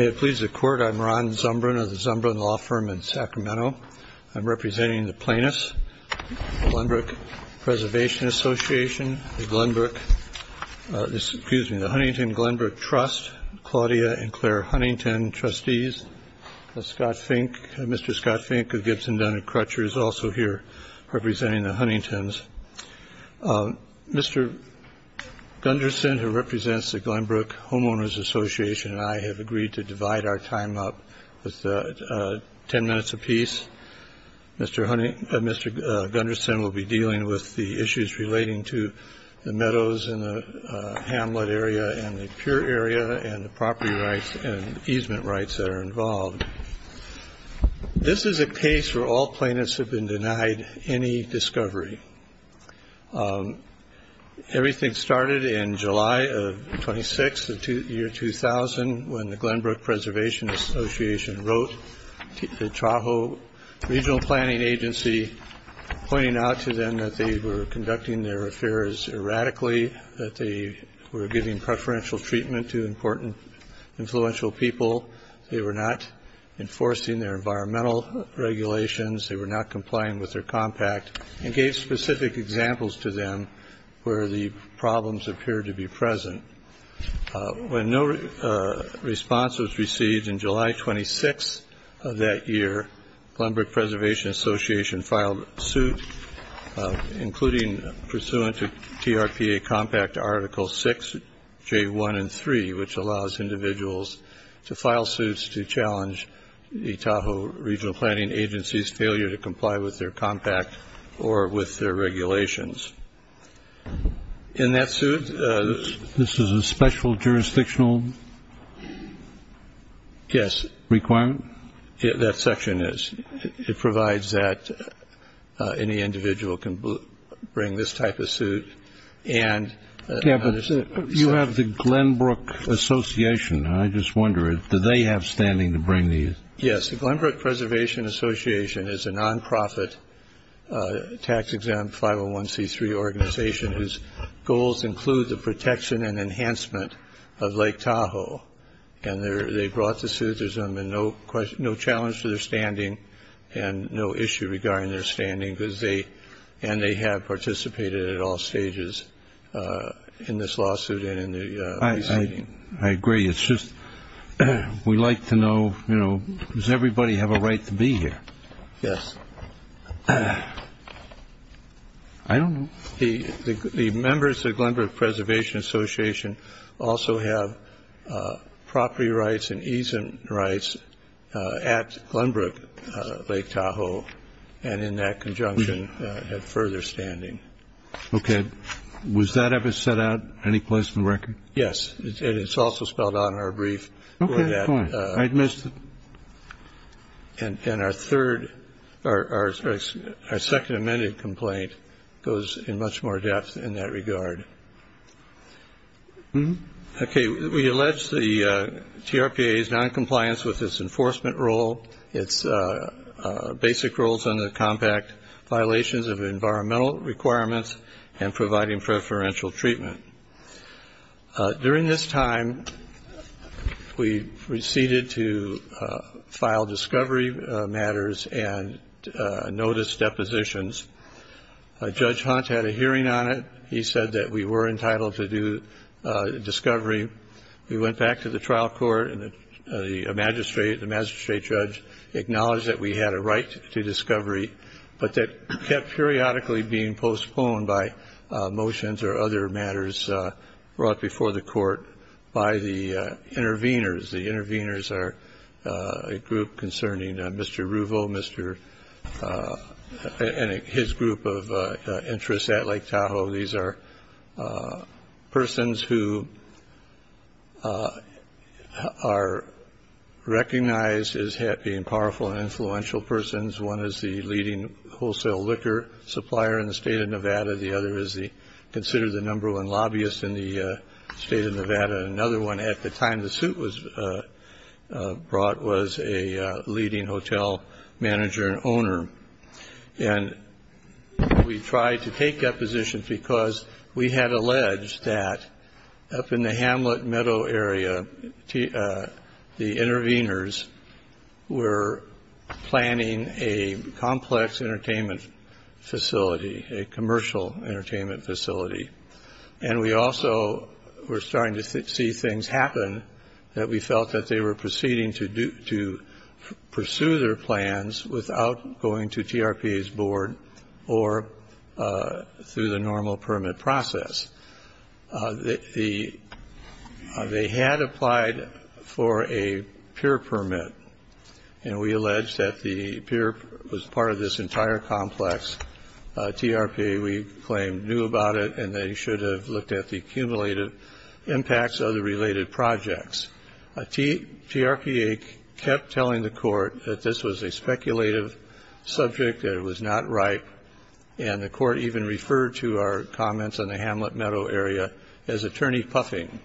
I'm Ron Zumbrun of the Zumbrun Law Firm in Sacramento. I'm representing the plaintiffs, the Glenbrook Preservation Association, the Glenbrook, excuse me, the Huntington Glenbrook Trust, Claudia and Claire Huntington, trustees. Scott Fink, Mr. Scott Fink of Gibson, Dunn & Crutcher is also here representing the Huntingtons. Mr. Gunderson, who represents the Glenbrook Homeowners Association, and I have agreed to divide our time up with 10 minutes apiece. Mr. Gunderson will be dealing with the issues relating to the meadows in the Hamlet area and the Pier area and the property rights and easement rights that are involved. This is a case where all plaintiffs have been denied any discovery. Everything started in July of 26, the year 2000, when the Glenbrook Preservation Association wrote to the Tahoe Regional Planning Agency pointing out to them that they were conducting their affairs erratically, that they were giving preferential treatment to important, influential people. They were not enforcing their environmental regulations. They were not complying with their compact and gave specific examples to them where the problems appeared to be present. When no response was received in July 26 of that year, Glenbrook Preservation Association filed suit, including pursuant to TRPA Compact Article 6J1 and 3, which allows individuals to file suits to challenge the Tahoe Regional Planning Agency's failure to comply with their compact or with their regulations. In that suit, this is a special jurisdictional requirement? Yes, that section is. It provides that any individual can bring this type of suit. You have the Glenbrook Association. I just wonder, do they have standing to bring these? Yes, the Glenbrook Preservation Association is a nonprofit tax-exempt 501c3 organization whose goals include the protection and enhancement of Lake Tahoe. They brought the suit. There has been no challenge to their standing and no issue regarding their standing, and they have participated at all stages in this lawsuit and in the proceeding. I agree. It's just we like to know, you know, does everybody have a right to be here? Yes. I don't know. The members of the Glenbrook Preservation Association also have property rights and easement rights at Glenbrook Lake Tahoe, and in that conjunction have further standing. Okay. Was that ever set out any place in the record? Yes, and it's also spelled out in our brief. Okay, fine. I'd missed it. And our second amended complaint goes in much more depth in that regard. Okay, we allege the TRPA's noncompliance with its enforcement rule, its basic rules on the compact violations of environmental requirements, and providing preferential treatment. During this time, we proceeded to file discovery matters and notice depositions. Judge Hunt had a hearing on it. He said that we were entitled to do discovery. We went back to the trial court, and the magistrate, the magistrate judge, acknowledged that we had a right to discovery, but that kept periodically being postponed by motions or other matters brought before the court by the intervenors. The intervenors are a group concerning Mr. Ruvo and his group of interests at Lake Tahoe. These are persons who are recognized as being powerful and influential persons. One is the leading wholesale liquor supplier in the state of Nevada. The other is considered the number one lobbyist in the state of Nevada. Another one, at the time the suit was brought, was a leading hotel manager and owner. And we tried to take depositions because we had alleged that up in the Hamlet Meadow area, the intervenors were planning a complex entertainment facility, a commercial entertainment facility. And we also were starting to see things happen, that we felt that they were proceeding to pursue their plans without going to TRPA's board or through the normal permit process. They had applied for a peer permit, and we alleged that the peer was part of this entire complex. TRPA, we claim, knew about it, and they should have looked at the cumulative impacts of the related projects. TRPA kept telling the court that this was a speculative subject, that it was not ripe, and the court even referred to our comments on the Hamlet Meadow area as attorney puffing.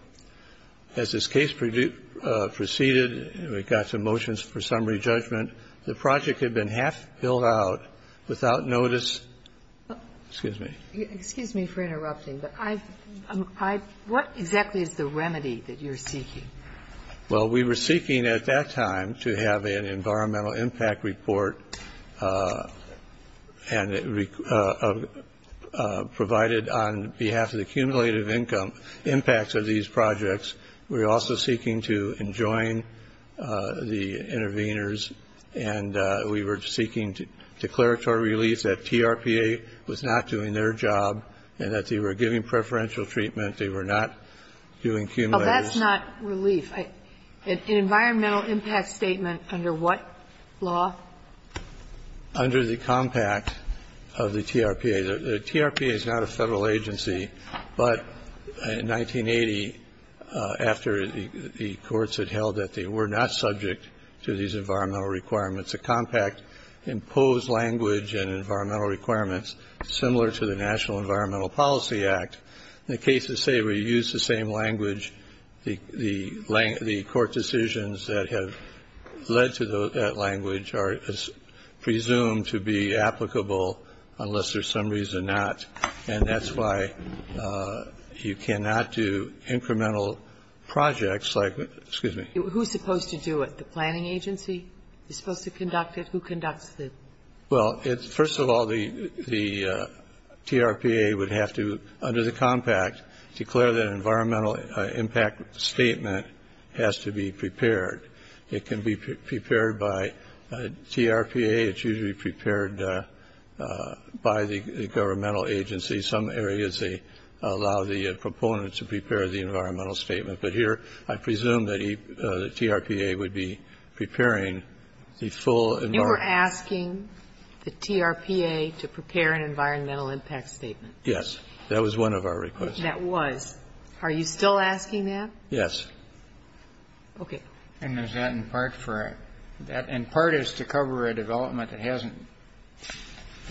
As this case proceeded, we got some motions for summary judgment. The project had been half filled out without notice. Excuse me. Excuse me for interrupting, but what exactly is the remedy that you're seeking? Well, we were seeking at that time to have an environmental impact report provided on behalf of the cumulative impacts of these projects. We were also seeking to enjoin the intervenors, and we were seeking declaratory relief that TRPA was not doing their job and that they were giving preferential treatment, they were not doing cumulative. Well, that's not relief. An environmental impact statement under what law? Under the compact of the TRPA. The TRPA is not a Federal agency, but in 1980, after the courts had held that they were not subject to these environmental requirements, a compact imposed language and environmental requirements similar to the National Environmental Policy Act. The cases say we use the same language. The court decisions that have led to that language are presumed to be applicable unless there's some reason not, and that's why you cannot do incremental projects like, excuse me. Who's supposed to do it? The planning agency is supposed to conduct it? Who conducts the? Well, first of all, the TRPA would have to, under the compact, declare that an environmental impact statement has to be prepared. It can be prepared by TRPA. It's usually prepared by the governmental agency. Some areas they allow the proponent to prepare the environmental statement, but here I presume that the TRPA would be preparing the full environmental. You were asking the TRPA to prepare an environmental impact statement? Yes. That was one of our requests. That was. Are you still asking that? Yes. Okay. And is that in part for that? And part is to cover a development that hasn't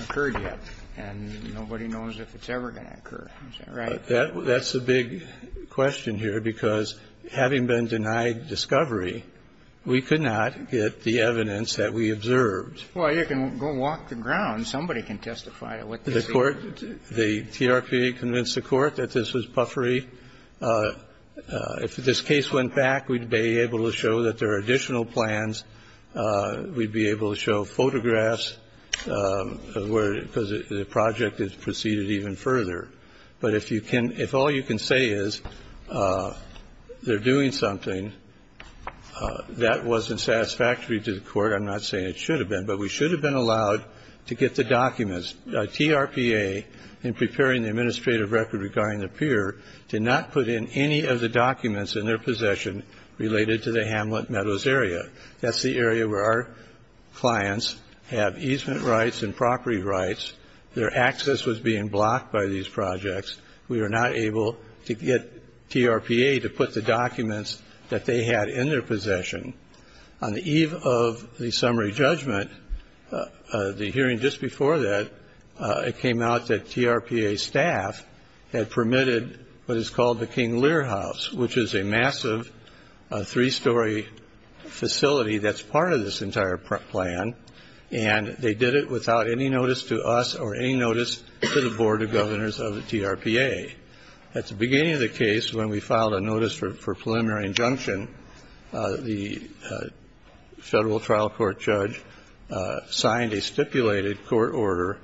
occurred yet, and nobody knows if it's ever going to occur. Is that right? That's the big question here, because having been denied discovery, we could not get the evidence that we observed. Well, you can go walk the ground. Somebody can testify to what they say. The court, the TRPA convinced the court that this was puffery. If this case went back, we'd be able to show that there are additional plans. We'd be able to show photographs because the project has proceeded even further. But if all you can say is they're doing something, that wasn't satisfactory to the court. I'm not saying it should have been, but we should have been allowed to get the documents. The TRPA, in preparing the administrative record regarding the pier, did not put in any of the documents in their possession related to the Hamlet Meadows area. That's the area where our clients have easement rights and property rights. Their access was being blocked by these projects. We were not able to get TRPA to put the documents that they had in their possession. On the eve of the summary judgment, the hearing just before that, it came out that TRPA staff had permitted what is called the King-Lear House, which is a massive three-story facility that's part of this entire plan, and they did it without any notice to us or any notice to the Board of Governors of the TRPA. At the beginning of the case, when we filed a notice for preliminary injunction, the Federal trial court judge signed a stipulated court order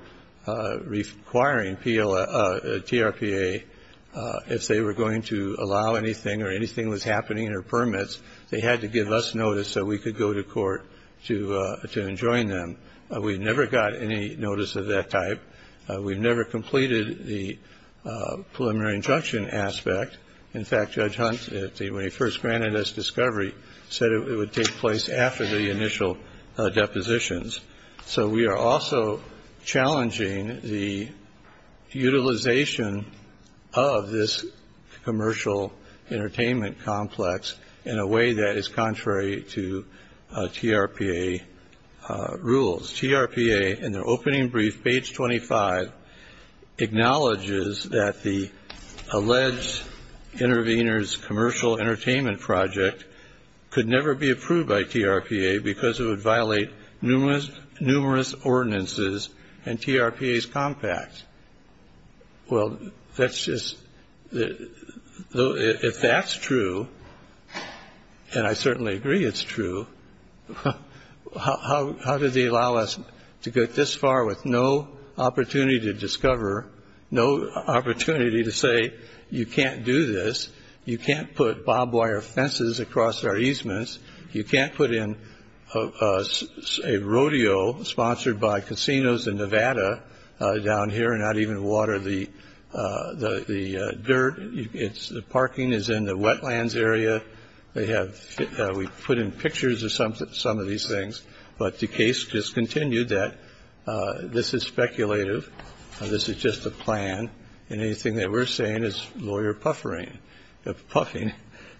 requiring TRPA, if they were going to allow anything or anything was happening or permits, they had to give us notice so we could go to court to enjoin them. We never got any notice of that type. We never completed the preliminary injunction aspect. In fact, Judge Hunt, when he first granted us discovery, said it would take place after the initial depositions. So we are also challenging the utilization of this commercial entertainment complex in a way that is contrary to TRPA rules. TRPA, in their opening brief, page 25, acknowledges that the alleged intervenors' commercial entertainment project could never be approved by TRPA because it would violate numerous ordinances and TRPA's compact. Well, that's just, if that's true, and I certainly agree it's true, how do they allow us to get this far with no opportunity to discover, no opportunity to say you can't do this, you can't put barbed wire fences across our easements, you can't put in a rodeo sponsored by casinos in Nevada down here and not even water the dirt. The parking is in the wetlands area. We put in pictures of some of these things. But the case just continued that this is speculative, this is just a plan, and anything that we're saying is lawyer puffing.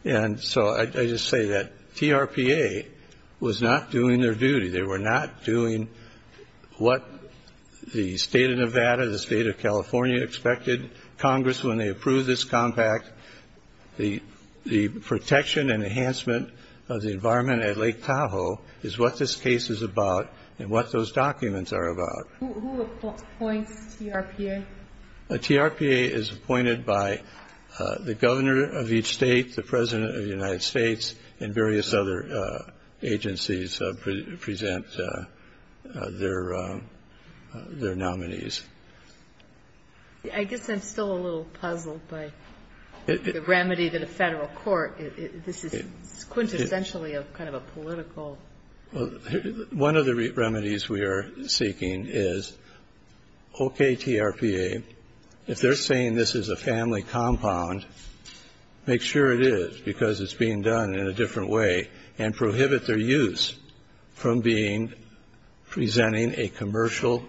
And so I just say that TRPA was not doing their duty. They were not doing what the State of Nevada, the State of California expected. Congress, when they approved this compact, the protection and enhancement of the environment at Lake Tahoe is what this case is about and what those documents are about. Who appoints TRPA? TRPA is appointed by the governor of each state, the president of the United States, and various other agencies present their nominees. I guess I'm still a little puzzled by the remedy to the Federal Court. This is quintessentially kind of a political. One of the remedies we are seeking is, okay, TRPA, if they're saying this is a family compound, make sure it is because it's being done in a different way and prohibit their use from presenting a commercial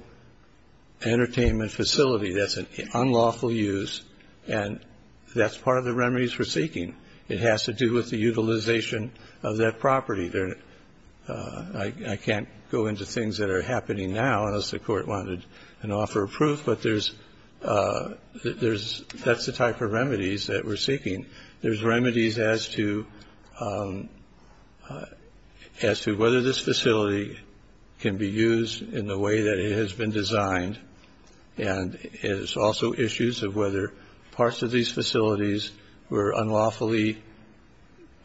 entertainment facility. That's an unlawful use, and that's part of the remedies we're seeking. It has to do with the utilization of that property. I can't go into things that are happening now unless the Court wanted an offer of proof, but that's the type of remedies that we're seeking. There's remedies as to whether this facility can be used in the way that it has been designed, and there's also issues of whether parts of these facilities were unlawfully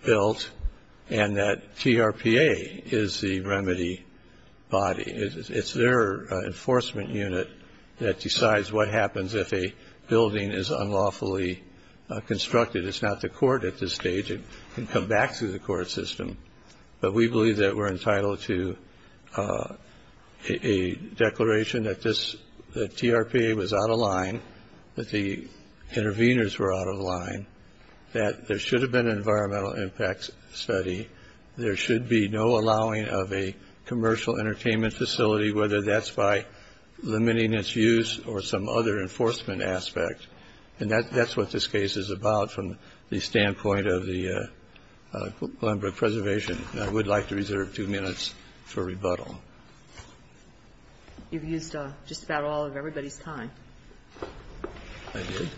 built and that TRPA is the remedy body. It's their enforcement unit that decides what happens if a building is unlawfully constructed. It's not the court at this stage. It can come back through the court system, but we believe that we're entitled to a declaration that TRPA was out of line, that the interveners were out of line, that there should have been an environmental impact study. There should be no allowing of a commercial entertainment facility, whether that's by limiting its use or some other enforcement aspect. And that's what this case is about from the standpoint of the Glenbrook Preservation. I would like to reserve two minutes for rebuttal. You've used just about all of everybody's time. I did.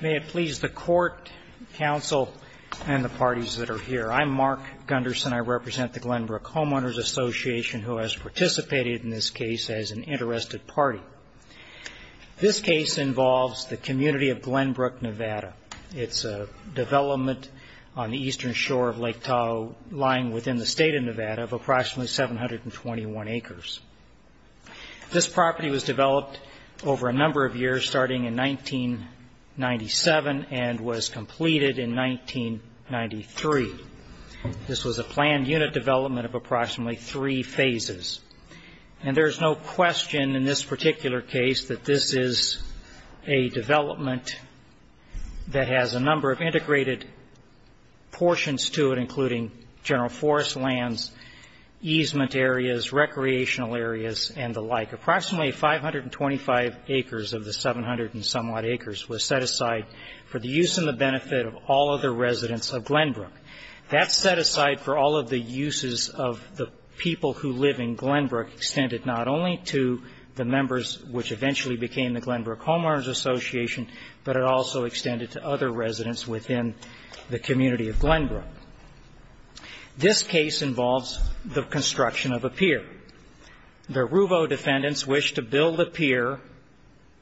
May it please the Court, counsel, and the parties that are here. I'm Mark Gunderson. I represent the Glenbrook Homeowners Association, who has participated in this case as an interested party. This case involves the community of Glenbrook, Nevada. It's a development on the eastern shore of Lake Tahoe, lying within the state of Nevada of approximately 721 acres. This property was developed over a number of years, starting in 1997, and was completed in 1993. This was a planned unit development of approximately three phases. And there's no question in this particular case that this is a development that has a number of integrated portions to it, including general forest lands, easement areas, recreational areas, and the like. Approximately 525 acres of the 700 and somewhat acres were set aside for the use and the benefit of all other residents of Glenbrook. That set aside for all of the uses of the people who live in Glenbrook extended not only to the members which eventually became the Glenbrook Homeowners Association, but it also extended to other residents within the community of Glenbrook. This case involves the construction of a pier. The Ruvo defendants wished to build a pier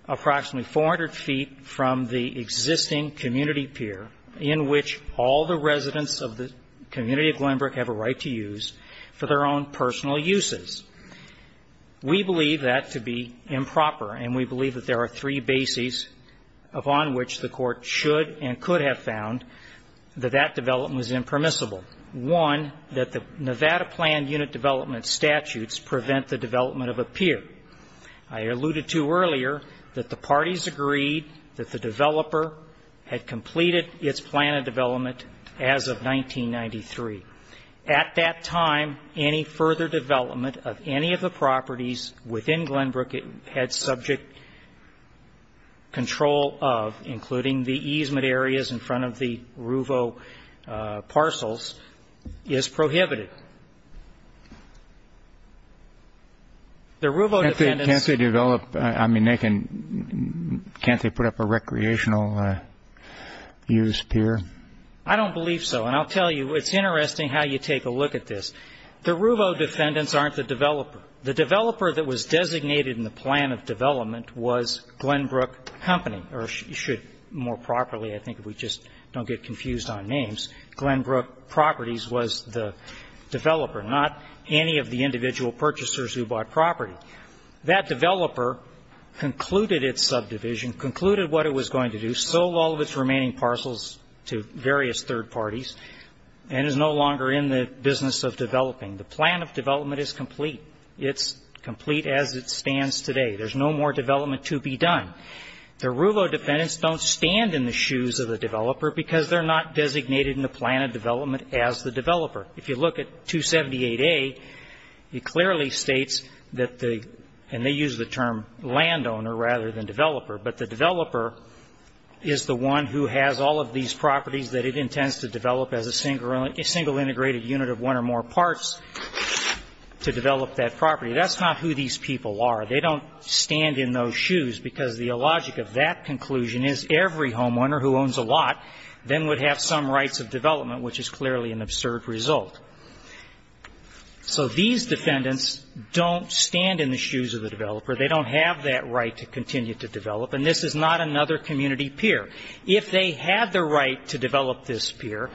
approximately 400 feet from the existing community pier in which all the residents of the community of Glenbrook have a right to use for their own personal uses. We believe that to be improper, and we believe that there are three bases upon which the court should and could have found that that development was impermissible. One, that the Nevada planned unit development statutes prevent the development of a pier. I alluded to earlier that the parties agreed that the developer had completed its plan of development as of 1993. At that time, any further development of any of the properties within Glenbrook it had subject control of, including the easement areas in front of the Ruvo parcels, is prohibited. The Ruvo defendants... Can't they develop, I mean, can't they put up a recreational use pier? I don't believe so, and I'll tell you, it's interesting how you take a look at this. The Ruvo defendants aren't the developer. The developer that was designated in the plan of development was Glenbrook Company, or should more properly, I think we just don't get confused on names, Glenbrook Properties was the developer, not any of the individual purchasers who bought property. That developer concluded its subdivision, concluded what it was going to do, sold all of its remaining parcels to various third parties, and is no longer in the business of developing. The plan of development is complete. It's complete as it stands today. There's no more development to be done. The Ruvo defendants don't stand in the shoes of the developer because they're not designated in the plan of development as the developer. If you look at 278A, it clearly states that the, and they use the term landowner rather than developer, but the developer is the one who has all of these properties that it intends to develop as a single integrated unit of one or more parts to develop that property. That's not who these people are. They don't stand in those shoes because the logic of that conclusion is every homeowner who owns a lot then would have some rights of development, which is clearly an absurd result. So these defendants don't stand in the shoes of the developer. They don't have that right to continue to develop, and this is not another community peer. If they had the right to develop this peer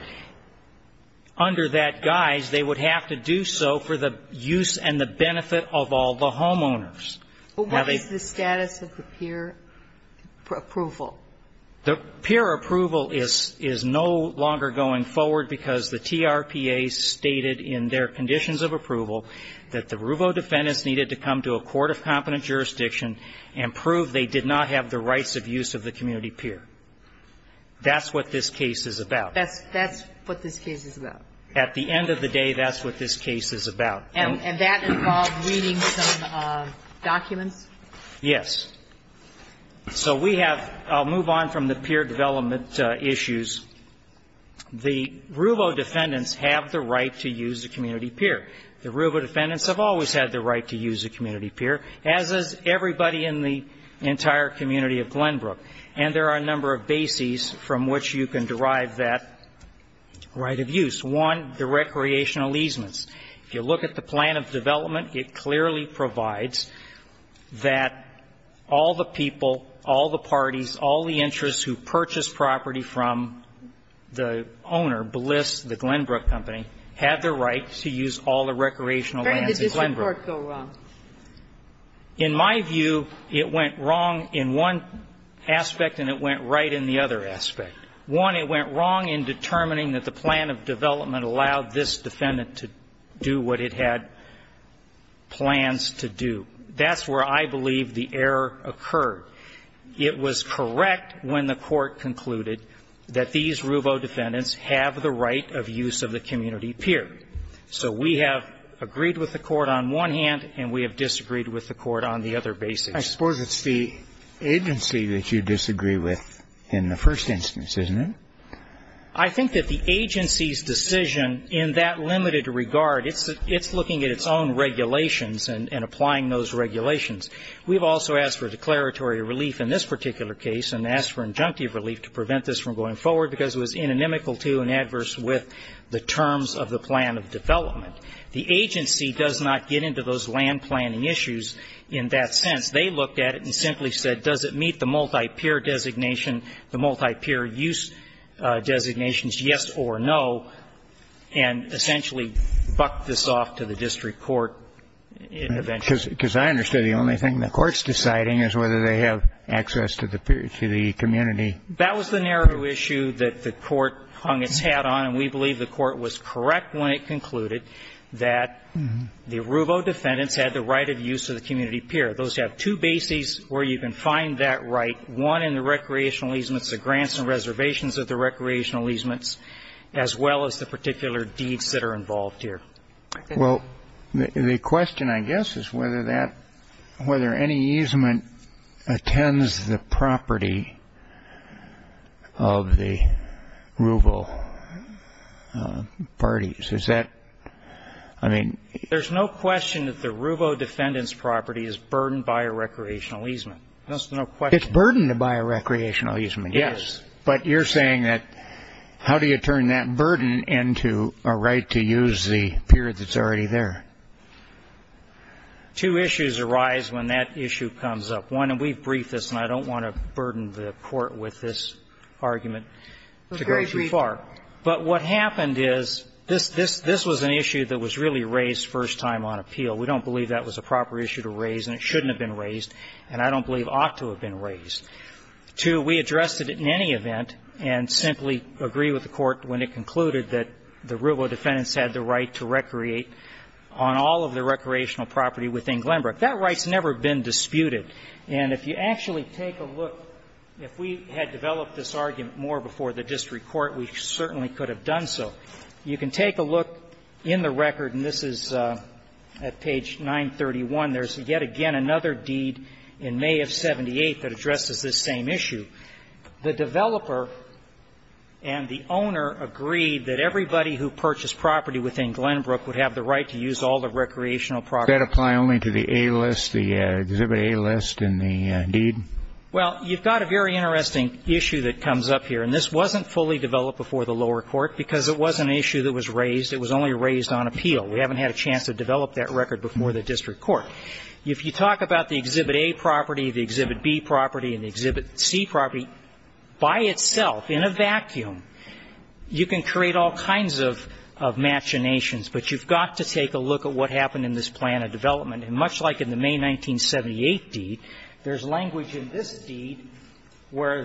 under that guise, they would have to do so for the use and the benefit of all the homeowners. Now, they ---- But what is the status of the peer approval? The peer approval is no longer going forward because the TRPA stated in their conditions of approval that the Ruvo defendants needed to come to a court of competent jurisdiction and prove they did not have the rights of use of the community peer. That's what this case is about. That's what this case is about. At the end of the day, that's what this case is about. And that involved reading some documents? Yes. So we have ---- I'll move on from the peer development issues. The Ruvo defendants have the right to use a community peer. The Ruvo defendants have always had the right to use a community peer, as has everybody in the entire community of Glenbrook. And there are a number of bases from which you can derive that right of use. One, the recreational easements. If you look at the plan of development, it clearly provides that all the people, all the parties, all the interests who purchased property from the owner, Bliss, the Glenbrook company, had the right to use all the recreational lands at Glenbrook. Where did this report go wrong? In my view, it went wrong in one aspect and it went right in the other aspect. One, it went wrong in determining that the plan of development allowed this defendant to do what it had plans to do. That's where I believe the error occurred. It was correct when the Court concluded that these Ruvo defendants have the right of use of the community peer. So we have agreed with the Court on one hand and we have disagreed with the Court on the other basis. I suppose it's the agency that you disagree with in the first instance, isn't it? I think that the agency's decision in that limited regard, it's looking at its own regulations and applying those regulations. We've also asked for declaratory relief in this particular case and asked for injunctive relief to prevent this from going forward because it was anonymical to and adverse with the terms of the plan of development. The agency does not get into those land planning issues in that sense. They looked at it and simply said, does it meet the multi-peer designation, the multi-peer use designations, yes or no, and essentially bucked this off to the district court. Because I understand the only thing the Court's deciding is whether they have access to the community. That was the narrow issue that the Court hung its hat on and we believe the Court was correct when it concluded that the Ruvo defendants had the right of use of the community peer. Those have two bases where you can find that right, one in the recreational easements, the grants and reservations of the recreational easements, as well as the particular deeds that are involved here. Well, the question I guess is whether that, whether any easement attends the property of the Ruvo parties. Is that, I mean? There's no question that the Ruvo defendant's property is burdened by a recreational easement. There's no question. It's burdened by a recreational easement. Yes. But you're saying that how do you turn that burden into a right to use the peer that's already there? Two issues arise when that issue comes up. One, and we've briefed this and I don't want to burden the Court with this argument to go too far. But what happened is this was an issue that was really raised first time on appeal. We don't believe that was a proper issue to raise and it shouldn't have been raised and I don't believe ought to have been raised. Two, we addressed it in any event and simply agree with the Court when it concluded that the Ruvo defendants had the right to recreate on all of the recreational property within Glenbrook. That right's never been disputed. And if you actually take a look, if we had developed this argument more before the case, we certainly could have done so. You can take a look in the record and this is at page 931. There's yet again another deed in May of 78 that addresses this same issue. The developer and the owner agreed that everybody who purchased property within Glenbrook would have the right to use all the recreational property. Does that apply only to the A list, the Exhibit A list in the deed? Well, you've got a very interesting issue that comes up here. And this wasn't fully developed before the lower court because it was an issue that was raised. It was only raised on appeal. We haven't had a chance to develop that record before the district court. If you talk about the Exhibit A property, the Exhibit B property and the Exhibit C property, by itself, in a vacuum, you can create all kinds of machinations, but you've got to take a look at what happened in this plan of development. And much like in the May 1978 deed, there's language in this deed where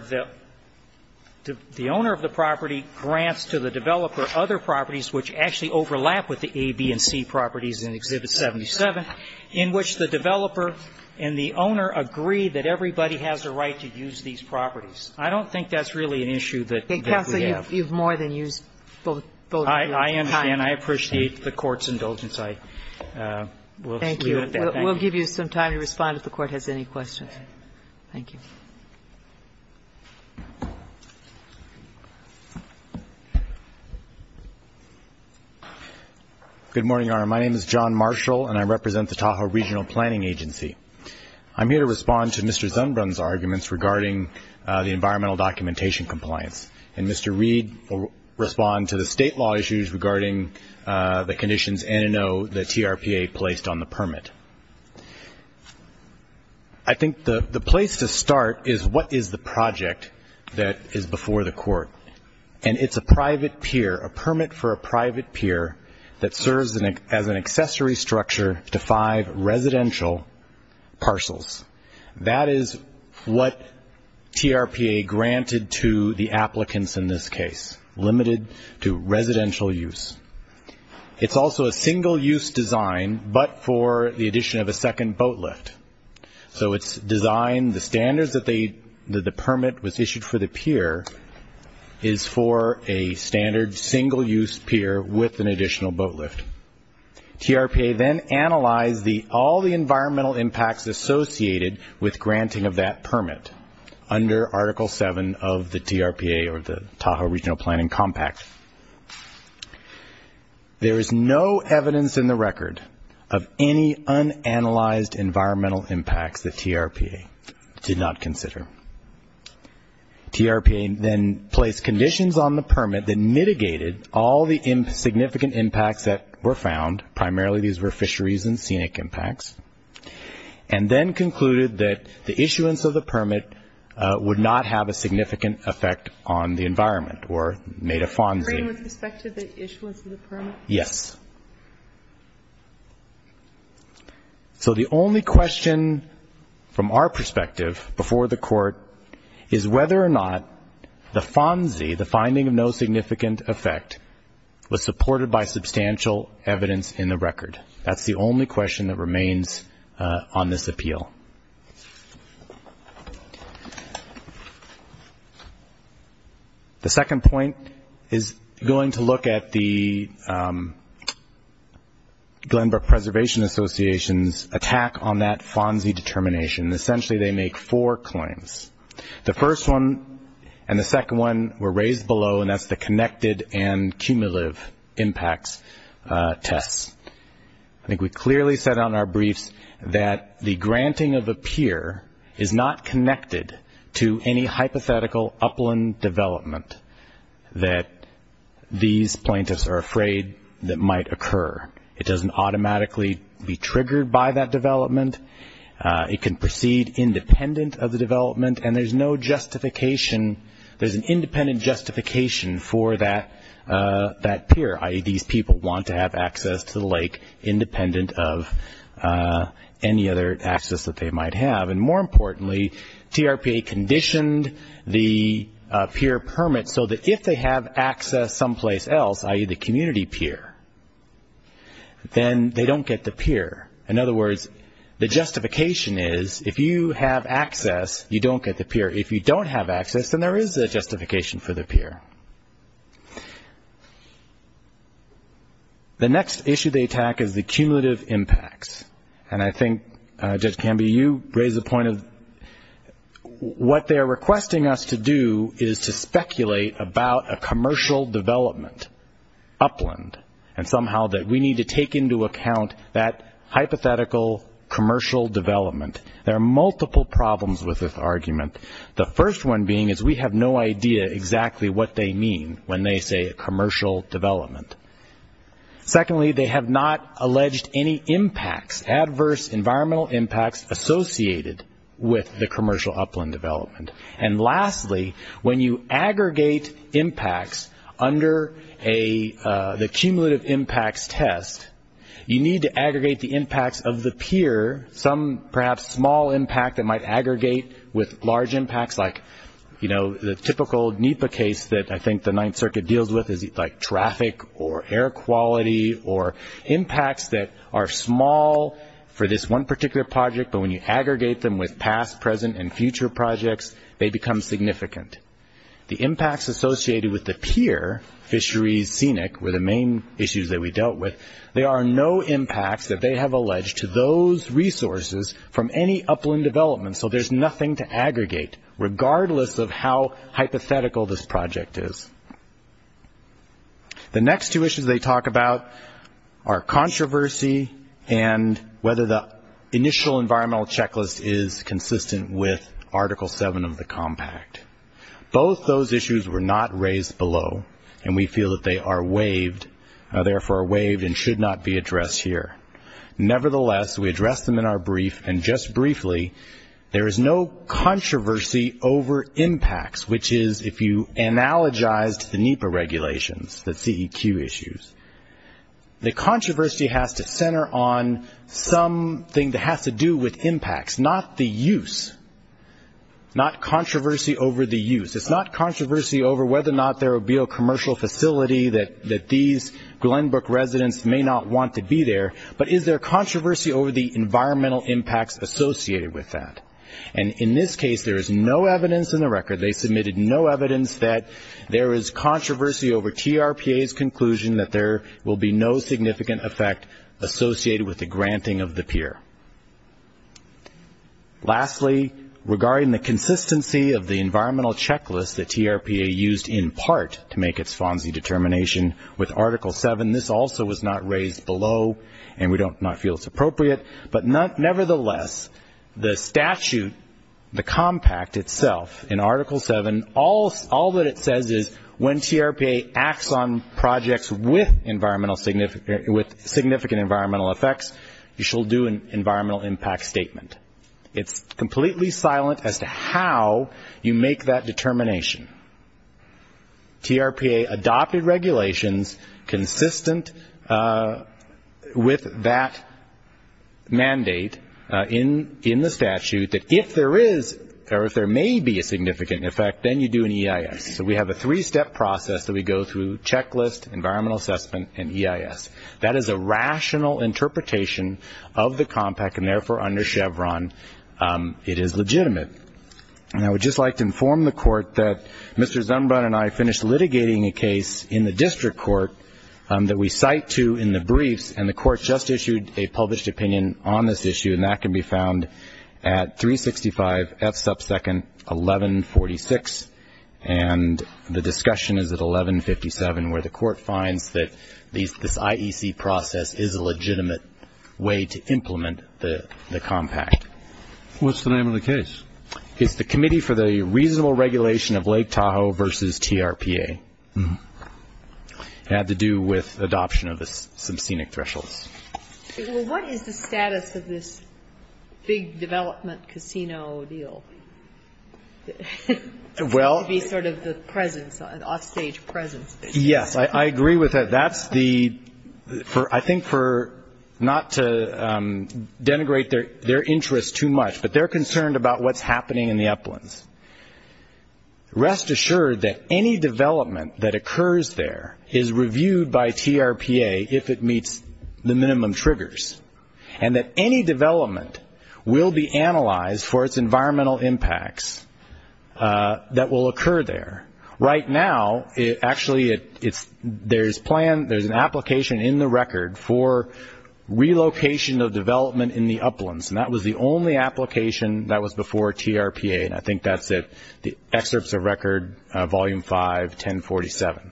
the owner of the property grants to the developer other properties which actually overlap with the A, B and C properties in Exhibit 77, in which the developer and the owner agree that everybody has a right to use these properties. I don't think that's really an issue that we have. Kagan, you've more than used both of your time. I understand. I appreciate the Court's indulgence. We'll leave it there. Thank you. We'll give you some time to respond if the Court has any questions. Thank you. Good morning, Your Honor. My name is John Marshall, and I represent the Tahoe Regional Planning Agency. I'm here to respond to Mr. Zunbrun's arguments regarding the environmental documentation compliance. And Mr. Reed will respond to the state law issues regarding the conditions N and O that TRPA placed on the permit. I think the place to start is what is the project that is before the Court? And it's a private pier, a permit for a private pier that serves as an accessory structure to five residential parcels. That is what TRPA granted to the applicants in this case, limited to residential use. It's also a single-use design but for the addition of a second boat lift. So it's designed, the standards that the permit was issued for the pier is for a standard single-use pier with an additional boat lift. TRPA then analyzed all the environmental impacts associated with granting of that permit under Article 7 of the TRPA or the Tahoe Regional Planning Compact. There is no evidence in the record of any unanalyzed environmental impacts that TRPA did not consider. TRPA then placed conditions on the permit that mitigated all the significant impacts that were found. Primarily these were fisheries and scenic impacts. And then concluded that the issuance of the permit would not have a significant effect on the environment or made a fonzie. With respect to the issuance of the permit? Yes. So the only question from our perspective before the court is whether or not the fonzie, the finding of no significant effect, was supported by substantial evidence in the record. That's the only question that remains on this appeal. The second point is going to look at the Glenbrook Preservation Association's attack on that fonzie determination. Essentially they make four claims. The first one and the second one were raised below, and that's the connected and cumulative impacts tests. I think we clearly said on our briefs that the granting of a pier is not connected to any hypothetical upland development that these plaintiffs are afraid that might occur. It doesn't automatically be triggered by that development. It can proceed independent of the development, and there's no justification. There's an independent justification for that pier, i.e., these people want to have access to the lake independent of any other access that they might have. And more importantly, TRPA conditioned the pier permit so that if they have access someplace else, i.e., the community pier, then they don't get the pier. In other words, the justification is if you have access, you don't get the pier. If you don't have access, then there is a justification for the pier. The next issue they attack is the cumulative impacts. And I think, Judge Canby, you raised the point of what they're requesting us to do is to speculate about a commercial development, upland, and somehow that we need to take into account that hypothetical commercial development. There are multiple problems with this argument. The first one being is we have no idea exactly what they mean when they say a commercial development. Secondly, they have not alleged any impacts, adverse environmental impacts associated with the commercial upland development. And lastly, when you aggregate impacts under the cumulative impacts test, you need to aggregate the impacts of the pier, some perhaps small impact that might aggregate with large impacts, like the typical NEPA case that I think the Ninth Circuit deals with is like traffic or air quality or impacts that are small for this one particular project, but when you aggregate them with past, present, and future projects, they become significant. The impacts associated with the pier, fisheries, scenic, were the main issues that we dealt with. There are no impacts that they have alleged to those resources from any upland development, so there's nothing to aggregate, regardless of how hypothetical this project is. The next two issues they talk about are controversy and whether the initial environmental checklist is consistent with Article 7 of the Compact. Both those issues were not raised below, and we feel that they are waived, and therefore are waived and should not be addressed here. Nevertheless, we address them in our brief, and just briefly, there is no controversy over impacts, which is if you analogized the NEPA regulations, the CEQ issues. The controversy has to center on something that has to do with impacts, not the use, not controversy over the use. It's not controversy over whether or not there will be a commercial facility that these Glenbrook residents may not want to be there, but is there controversy over the environmental impacts associated with that? In this case, there is no evidence in the record, they submitted no evidence that there is controversy over TRPA's conclusion that there will be no significant effect associated with the granting of the pier. Lastly, regarding the consistency of the environmental checklist that TRPA used in part to make its FONSI determination with Article 7, this also was not raised below, and we do not feel it's appropriate, but nevertheless, the statute, the Compact itself in Article 7, all that it says is when TRPA acts on projects with significant environmental effects, you shall do an environmental impact statement. It's completely silent as to how you make that determination. TRPA adopted regulations consistent with that mandate in the statute that if there is or if there may be a significant effect, then you do an EIS. So we have a three-step process that we go through, checklist, environmental assessment, and EIS. That is a rational interpretation of the Compact, and therefore, under Chevron, it is legitimate. Now, I would just like to inform the Court that Mr. Zumbrun and I finished litigating a case in the district court that we cite to in the briefs, and the Court just issued a published opinion on this issue, and that can be found at 365 F-subsecond 1146, and the discussion is at 1157 where the Court finds that this IEC process is a legitimate way to implement the Compact. What's the name of the case? It's the Committee for the Reasonable Regulation of Lake Tahoe v. TRPA. It had to do with adoption of some scenic thresholds. What is the status of this big development casino deal? Well... It would be sort of the presence, an offstage presence. Yes, I agree with that. That's the, I think, for not to denigrate their interest too much, but they're concerned about what's happening in the uplands. Rest assured that any development that occurs there is reviewed by TRPA if it meets the minimum triggers, and that any development will be analyzed for its environmental impacts that will occur there. Right now, actually, there's an application in the record for relocation of development in the uplands, and that was the only application that was before TRPA, and I think that's at the excerpts of record, Volume 5, 1047.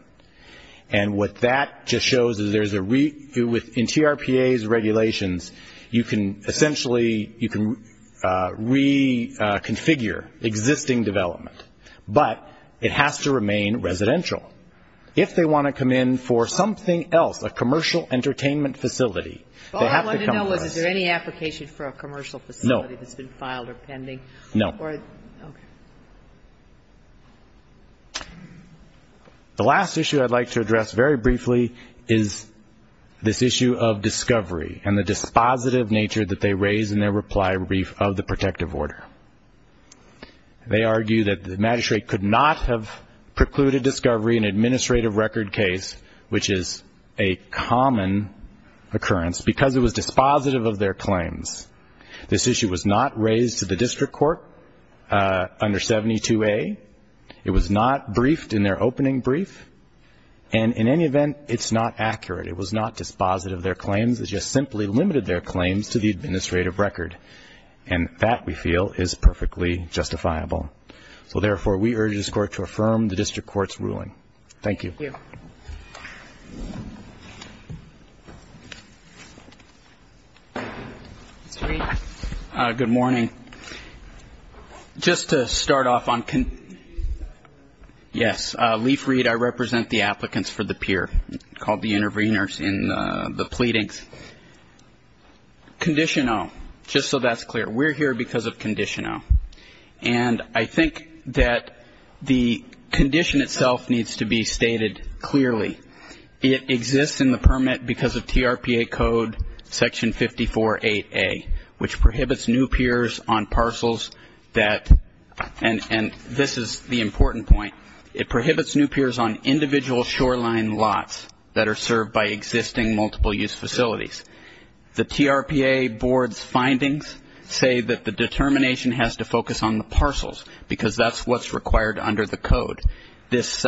And what that just shows is there's a, in TRPA's regulations, you can essentially, you can reconfigure existing development, but it has to remain residential. If they want to come in for something else, a commercial entertainment facility, they have to come to us. All I wanted to know was, is there any application for a commercial facility that's been filed or pending? No. Okay. The last issue I'd like to address very briefly is this issue of discovery and the dispositive nature that they raise in their reply brief of the protective order. They argue that the magistrate could not have precluded discovery in an administrative record case, which is a common occurrence, because it was dispositive of their claims. This issue was not raised to the district court under 72A. It was not briefed in their opening brief, and in any event, it's not accurate. It was not dispositive of their claims. It just simply limited their claims to the administrative record, and that, we feel, is perfectly justifiable. So therefore, we urge this court to affirm the district court's ruling. Thank you. Thank you. Mr. Reed? Good morning. Just to start off on, yes, Leif Reed, I represent the applicants for the peer called the interveners in the pleadings. Condition O, just so that's clear, we're here because of Condition O, and I think that the condition itself needs to be stated clearly. It exists in the permit because of TRPA Code Section 54-8A, which prohibits new peers on parcels that, and this is the important point, it prohibits new peers on individual shoreline lots that are served by existing multiple-use facilities. The TRPA board's findings say that the determination has to focus on the parcels because that's what's required under the code. This,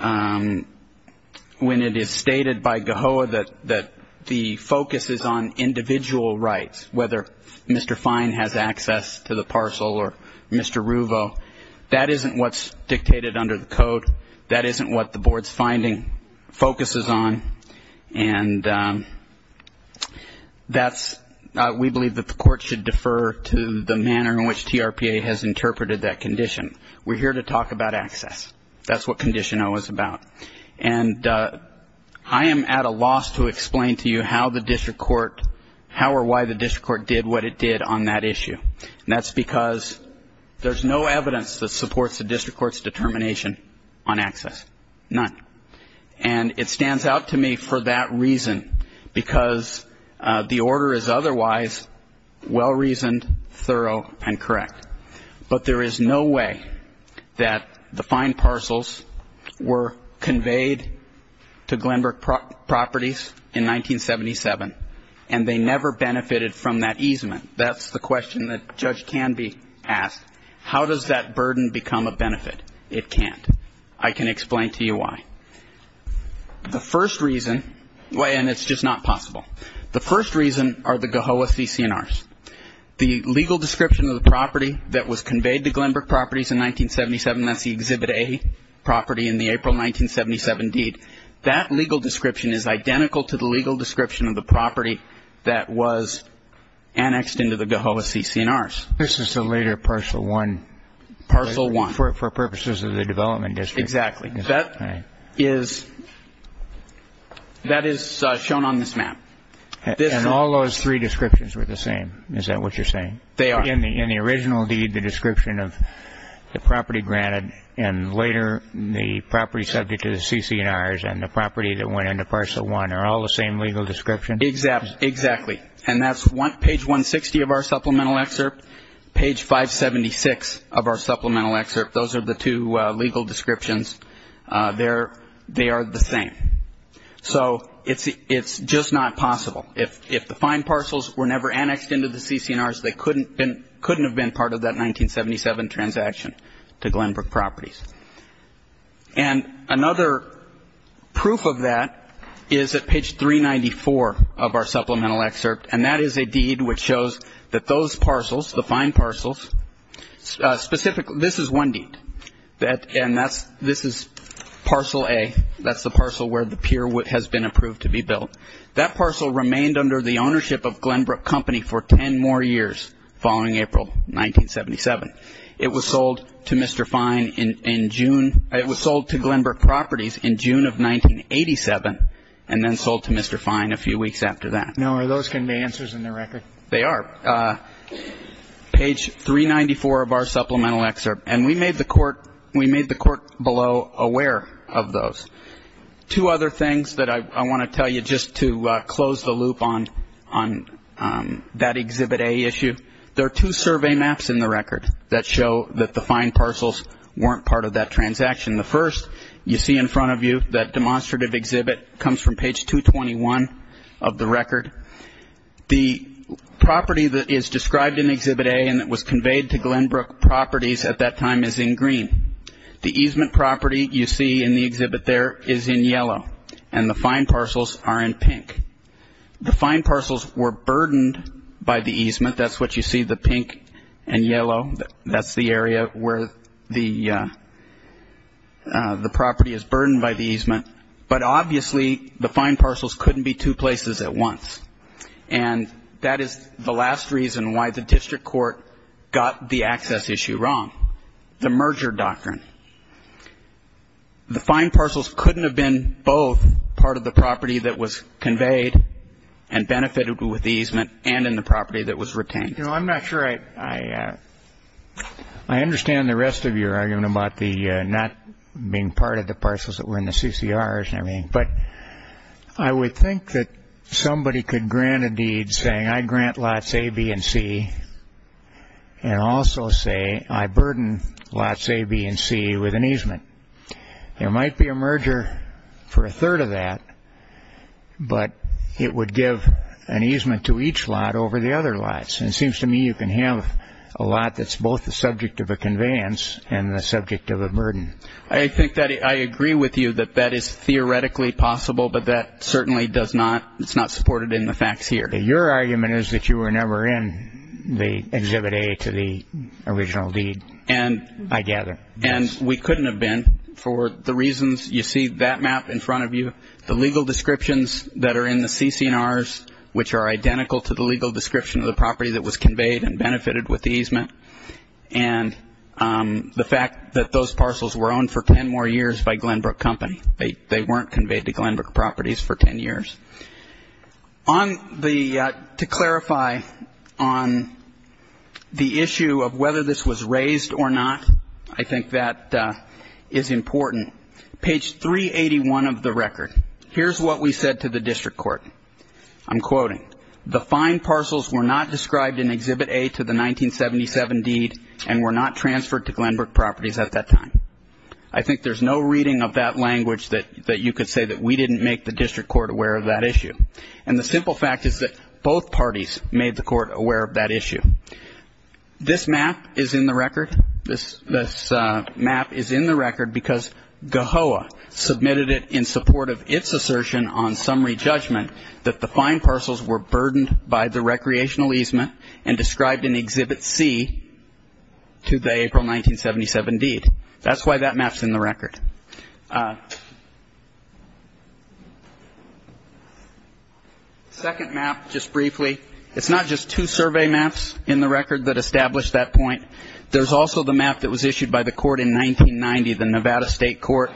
when it is stated by GAHOA that the focus is on individual rights, whether Mr. Fine has access to the parcel or Mr. Ruvo, that isn't what's dictated under the code. That isn't what the board's finding focuses on, and we believe that the court should defer to the manner in which TRPA has interpreted that condition. We're here to talk about access. That's what Condition O is about. And I am at a loss to explain to you how the district court, how or why the district court did what it did on that issue, and that's because there's no evidence that supports the district court's determination on access, none. And it stands out to me for that reason, because the order is otherwise well-reasoned, thorough, and correct. But there is no way that the fine parcels were conveyed to Glenbrook Properties in 1977 and they never benefited from that easement. That's the question that a judge can be asked. How does that burden become a benefit? It can't. I can explain to you why. The first reason, and it's just not possible, the first reason are the GAHOA CC&Rs. The legal description of the property that was conveyed to Glenbrook Properties in 1977, that's the Exhibit A property in the April 1977 deed, that legal description is identical to the legal description of the property that was annexed into the GAHOA CC&Rs. This is the later Parcel 1. Parcel 1. For purposes of the development district. Exactly. That is shown on this map. And all those three descriptions were the same, is that what you're saying? They are. In the original deed, the description of the property granted and later the property subject to the CC&Rs and the property that went into Parcel 1 are all the same legal description? Exactly. And that's page 160 of our supplemental excerpt, page 576 of our supplemental excerpt. Those are the two legal descriptions. They are the same. So it's just not possible. If the fine parcels were never annexed into the CC&Rs, they couldn't have been part of that 1977 transaction to Glenbrook Properties. And another proof of that is at page 394 of our supplemental excerpt, and that is a deed which shows that those parcels, the fine parcels, specifically this is one deed. And this is Parcel A. That's the parcel where the pier has been approved to be built. That parcel remained under the ownership of Glenbrook Company for ten more years following April 1977. It was sold to Mr. Fine in June. It was sold to Glenbrook Properties in June of 1987 and then sold to Mr. Fine a few weeks after that. Now, are those going to be answers in the record? They are. Page 394 of our supplemental excerpt. And we made the Court below aware of those. Two other things that I want to tell you just to close the loop on that Exhibit A issue. There are two survey maps in the record that show that the fine parcels weren't part of that transaction. The first you see in front of you, that demonstrative exhibit, comes from page 221 of the record. The property that is described in Exhibit A and that was conveyed to Glenbrook Properties at that time is in green. The easement property you see in the exhibit there is in yellow. And the fine parcels are in pink. The fine parcels were burdened by the easement. That's what you see, the pink and yellow. That's the area where the property is burdened by the easement. But obviously, the fine parcels couldn't be two places at once. And that is the last reason why the District Court got the access issue wrong. The merger doctrine. The fine parcels couldn't have been both part of the property that was conveyed and benefited with the easement and in the property that was retained. I'm not sure I understand the rest of your argument about the not being part of the parcels that were in the CCRs and everything. But I would think that somebody could grant a deed saying, I grant lots A, B, and C and also say I burden lots A, B, and C with an easement. There might be a merger for a third of that, but it would give an easement to each lot over the other lots. And it seems to me you can have a lot that's both the subject of a conveyance and the subject of a burden. I think that I agree with you that that is theoretically possible, but that certainly does not, it's not supported in the facts here. Your argument is that you were never in the Exhibit A to the original deed, I gather. And we couldn't have been for the reasons you see that map in front of you, the legal descriptions that are in the CCRs, which are identical to the legal description of the property that was conveyed and benefited with the easement, and the fact that those parcels were owned for ten more years by Glenbrook Company. They weren't conveyed to Glenbrook Properties for ten years. On the, to clarify on the issue of whether this was raised or not, I think that is important. Page 381 of the record, here's what we said to the district court. I'm quoting. The fine parcels were not described in Exhibit A to the 1977 deed and were not transferred to Glenbrook Properties at that time. I think there's no reading of that language that you could say that we didn't make the district court aware of that issue. And the simple fact is that both parties made the court aware of that issue. This map is in the record. This map is in the record because GAHOA submitted it in support of its assertion on summary judgment that the fine parcels were burdened by the recreational easement and described in Exhibit C to the April 1977 deed. That's why that map's in the record. Second map, just briefly. It's not just two survey maps in the record that establish that point. There's also the map that was issued by the court in 1990, the Nevada State Court,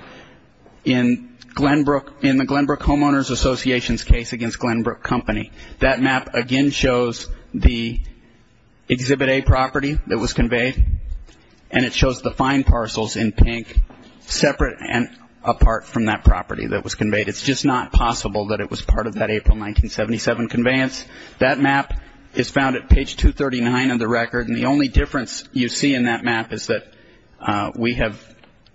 in the Glenbrook Homeowners Association's case against Glenbrook Company. That map, again, shows the Exhibit A property that was conveyed, and it shows the fine parcels in pink separate and apart from that property that was conveyed. It's just not possible that it was part of that April 1977 conveyance. That map is found at page 239 in the record, and the only difference you see in that map is that we have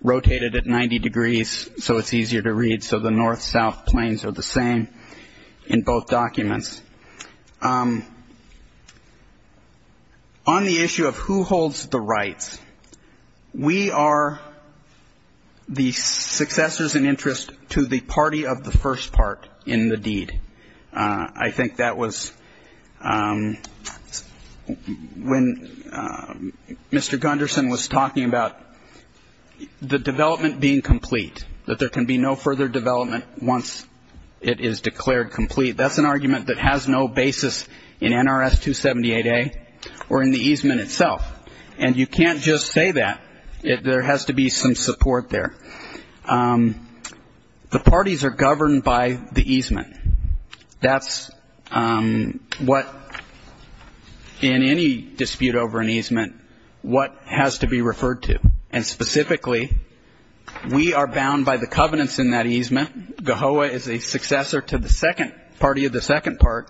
rotated it 90 degrees so it's easier to read, so the north-south planes are the same in both documents. On the issue of who holds the rights, we are the successors in interest to the party of the first part in the deed. I think that was when Mr. Gunderson was talking about the development being complete, that there can be no further development once it is declared complete. That's an argument that has no basis in NRS 278A or in the easement itself. And you can't just say that. There has to be some support there. The parties are governed by the easement. That's what, in any dispute over an easement, what has to be referred to. And specifically, we are bound by the covenants in that easement. GAHOA is a successor to the second party of the second part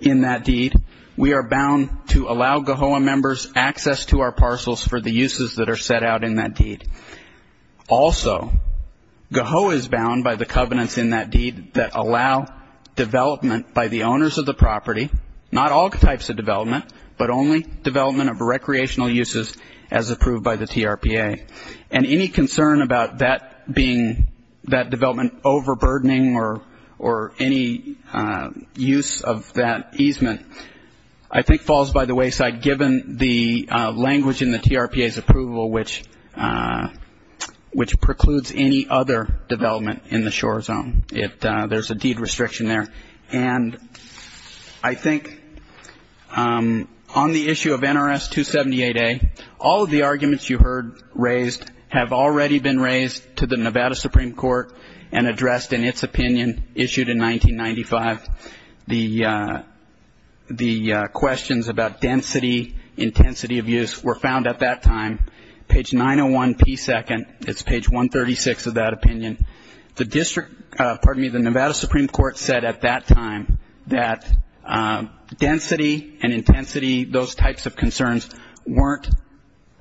in that deed. We are bound to allow GAHOA members access to our parcels for the uses that are set out in that deed. Also, GAHOA is bound by the covenants in that deed that allow development by the owners of the property, not all types of development, but only development of recreational uses as approved by the TRPA. And any concern about that being, that development overburdening or any use of that easement, I think falls by the wayside given the language in the TRPA's approval, which precludes any other development in the shore zone. There's a deed restriction there. And I think on the issue of NRS 278A, all of the arguments you heard raised have already been raised to the Nevada Supreme Court and addressed in its opinion issued in 1995. The questions about density, intensity of use were found at that time. Page 901p2, it's page 136 of that opinion. The district, pardon me, the Nevada Supreme Court said at that time that density and intensity, those types of concerns weren't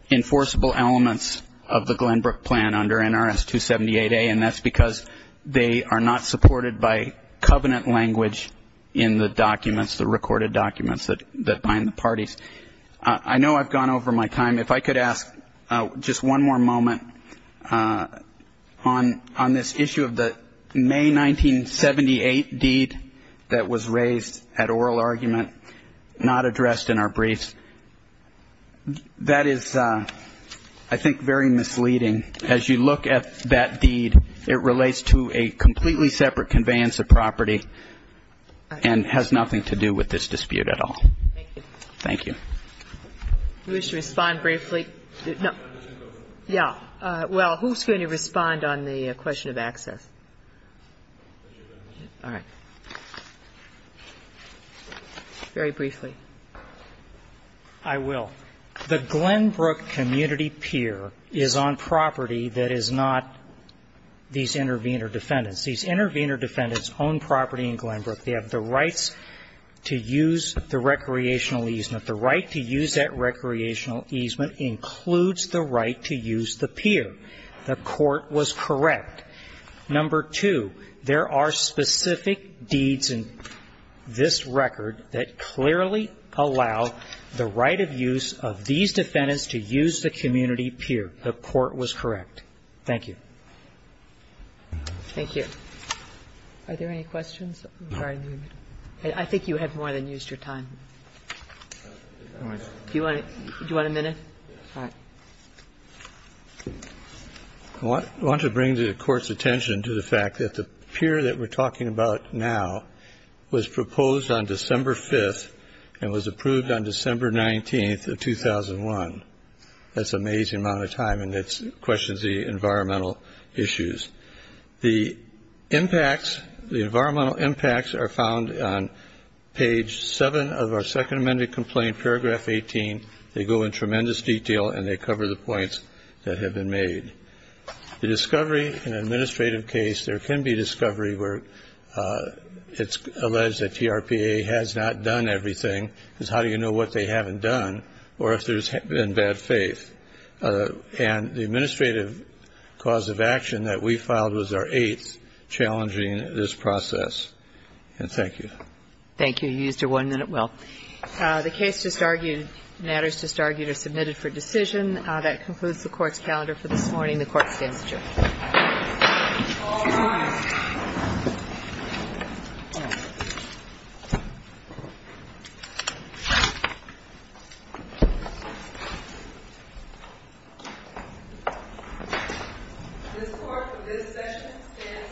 enforceable elements of the Glenbrook Plan under NRS 278A, and that's because they are not supported by covenant language in the documents, the recorded documents that bind the parties. I know I've gone over my time. If I could ask just one more moment on this issue of the May 1978 deed that was raised at oral argument, not addressed in our briefs. That is, I think, very misleading. As you look at that deed, it relates to a completely separate conveyance of property and has nothing to do with this dispute at all. Thank you. You wish to respond briefly? No. Yeah. Well, who's going to respond on the question of access? All right. Very briefly. I will. The Glenbrook community pier is on property that is not these intervener defendants. These intervener defendants own property in Glenbrook. They have the rights to use the recreational easement. The right to use that recreational easement includes the right to use the pier. The court was correct. Number two, there are specific deeds in this record that clearly allow the right of use of these defendants to use the community pier. The court was correct. Thank you. Thank you. Are there any questions? I'm sorry. I think you have more than used your time. Do you want a minute? All right. I want to bring the Court's attention to the fact that the pier that we're talking about now was proposed on December 5th and was approved on December 19th of 2001. That's an amazing amount of time, and it questions the environmental issues. The impacts, the environmental impacts are found on page 7 of our Second Amendment complaint, paragraph 18. They go in tremendous detail, and they cover the points that have been made. The discovery in an administrative case, there can be discovery where it's alleged that TRPA has not done everything, because how do you know what they haven't done or if there's been bad faith? And the administrative cause of action that we filed was our eighth, challenging this process. And thank you. Thank you. You used your one-minute. Well, the case just argued, matters just argued are submitted for decision. That concludes the Court's calendar for this morning. The Court stands adjourned. All rise. This Court for this session stands adjourned. This Court for this session stands adjourned.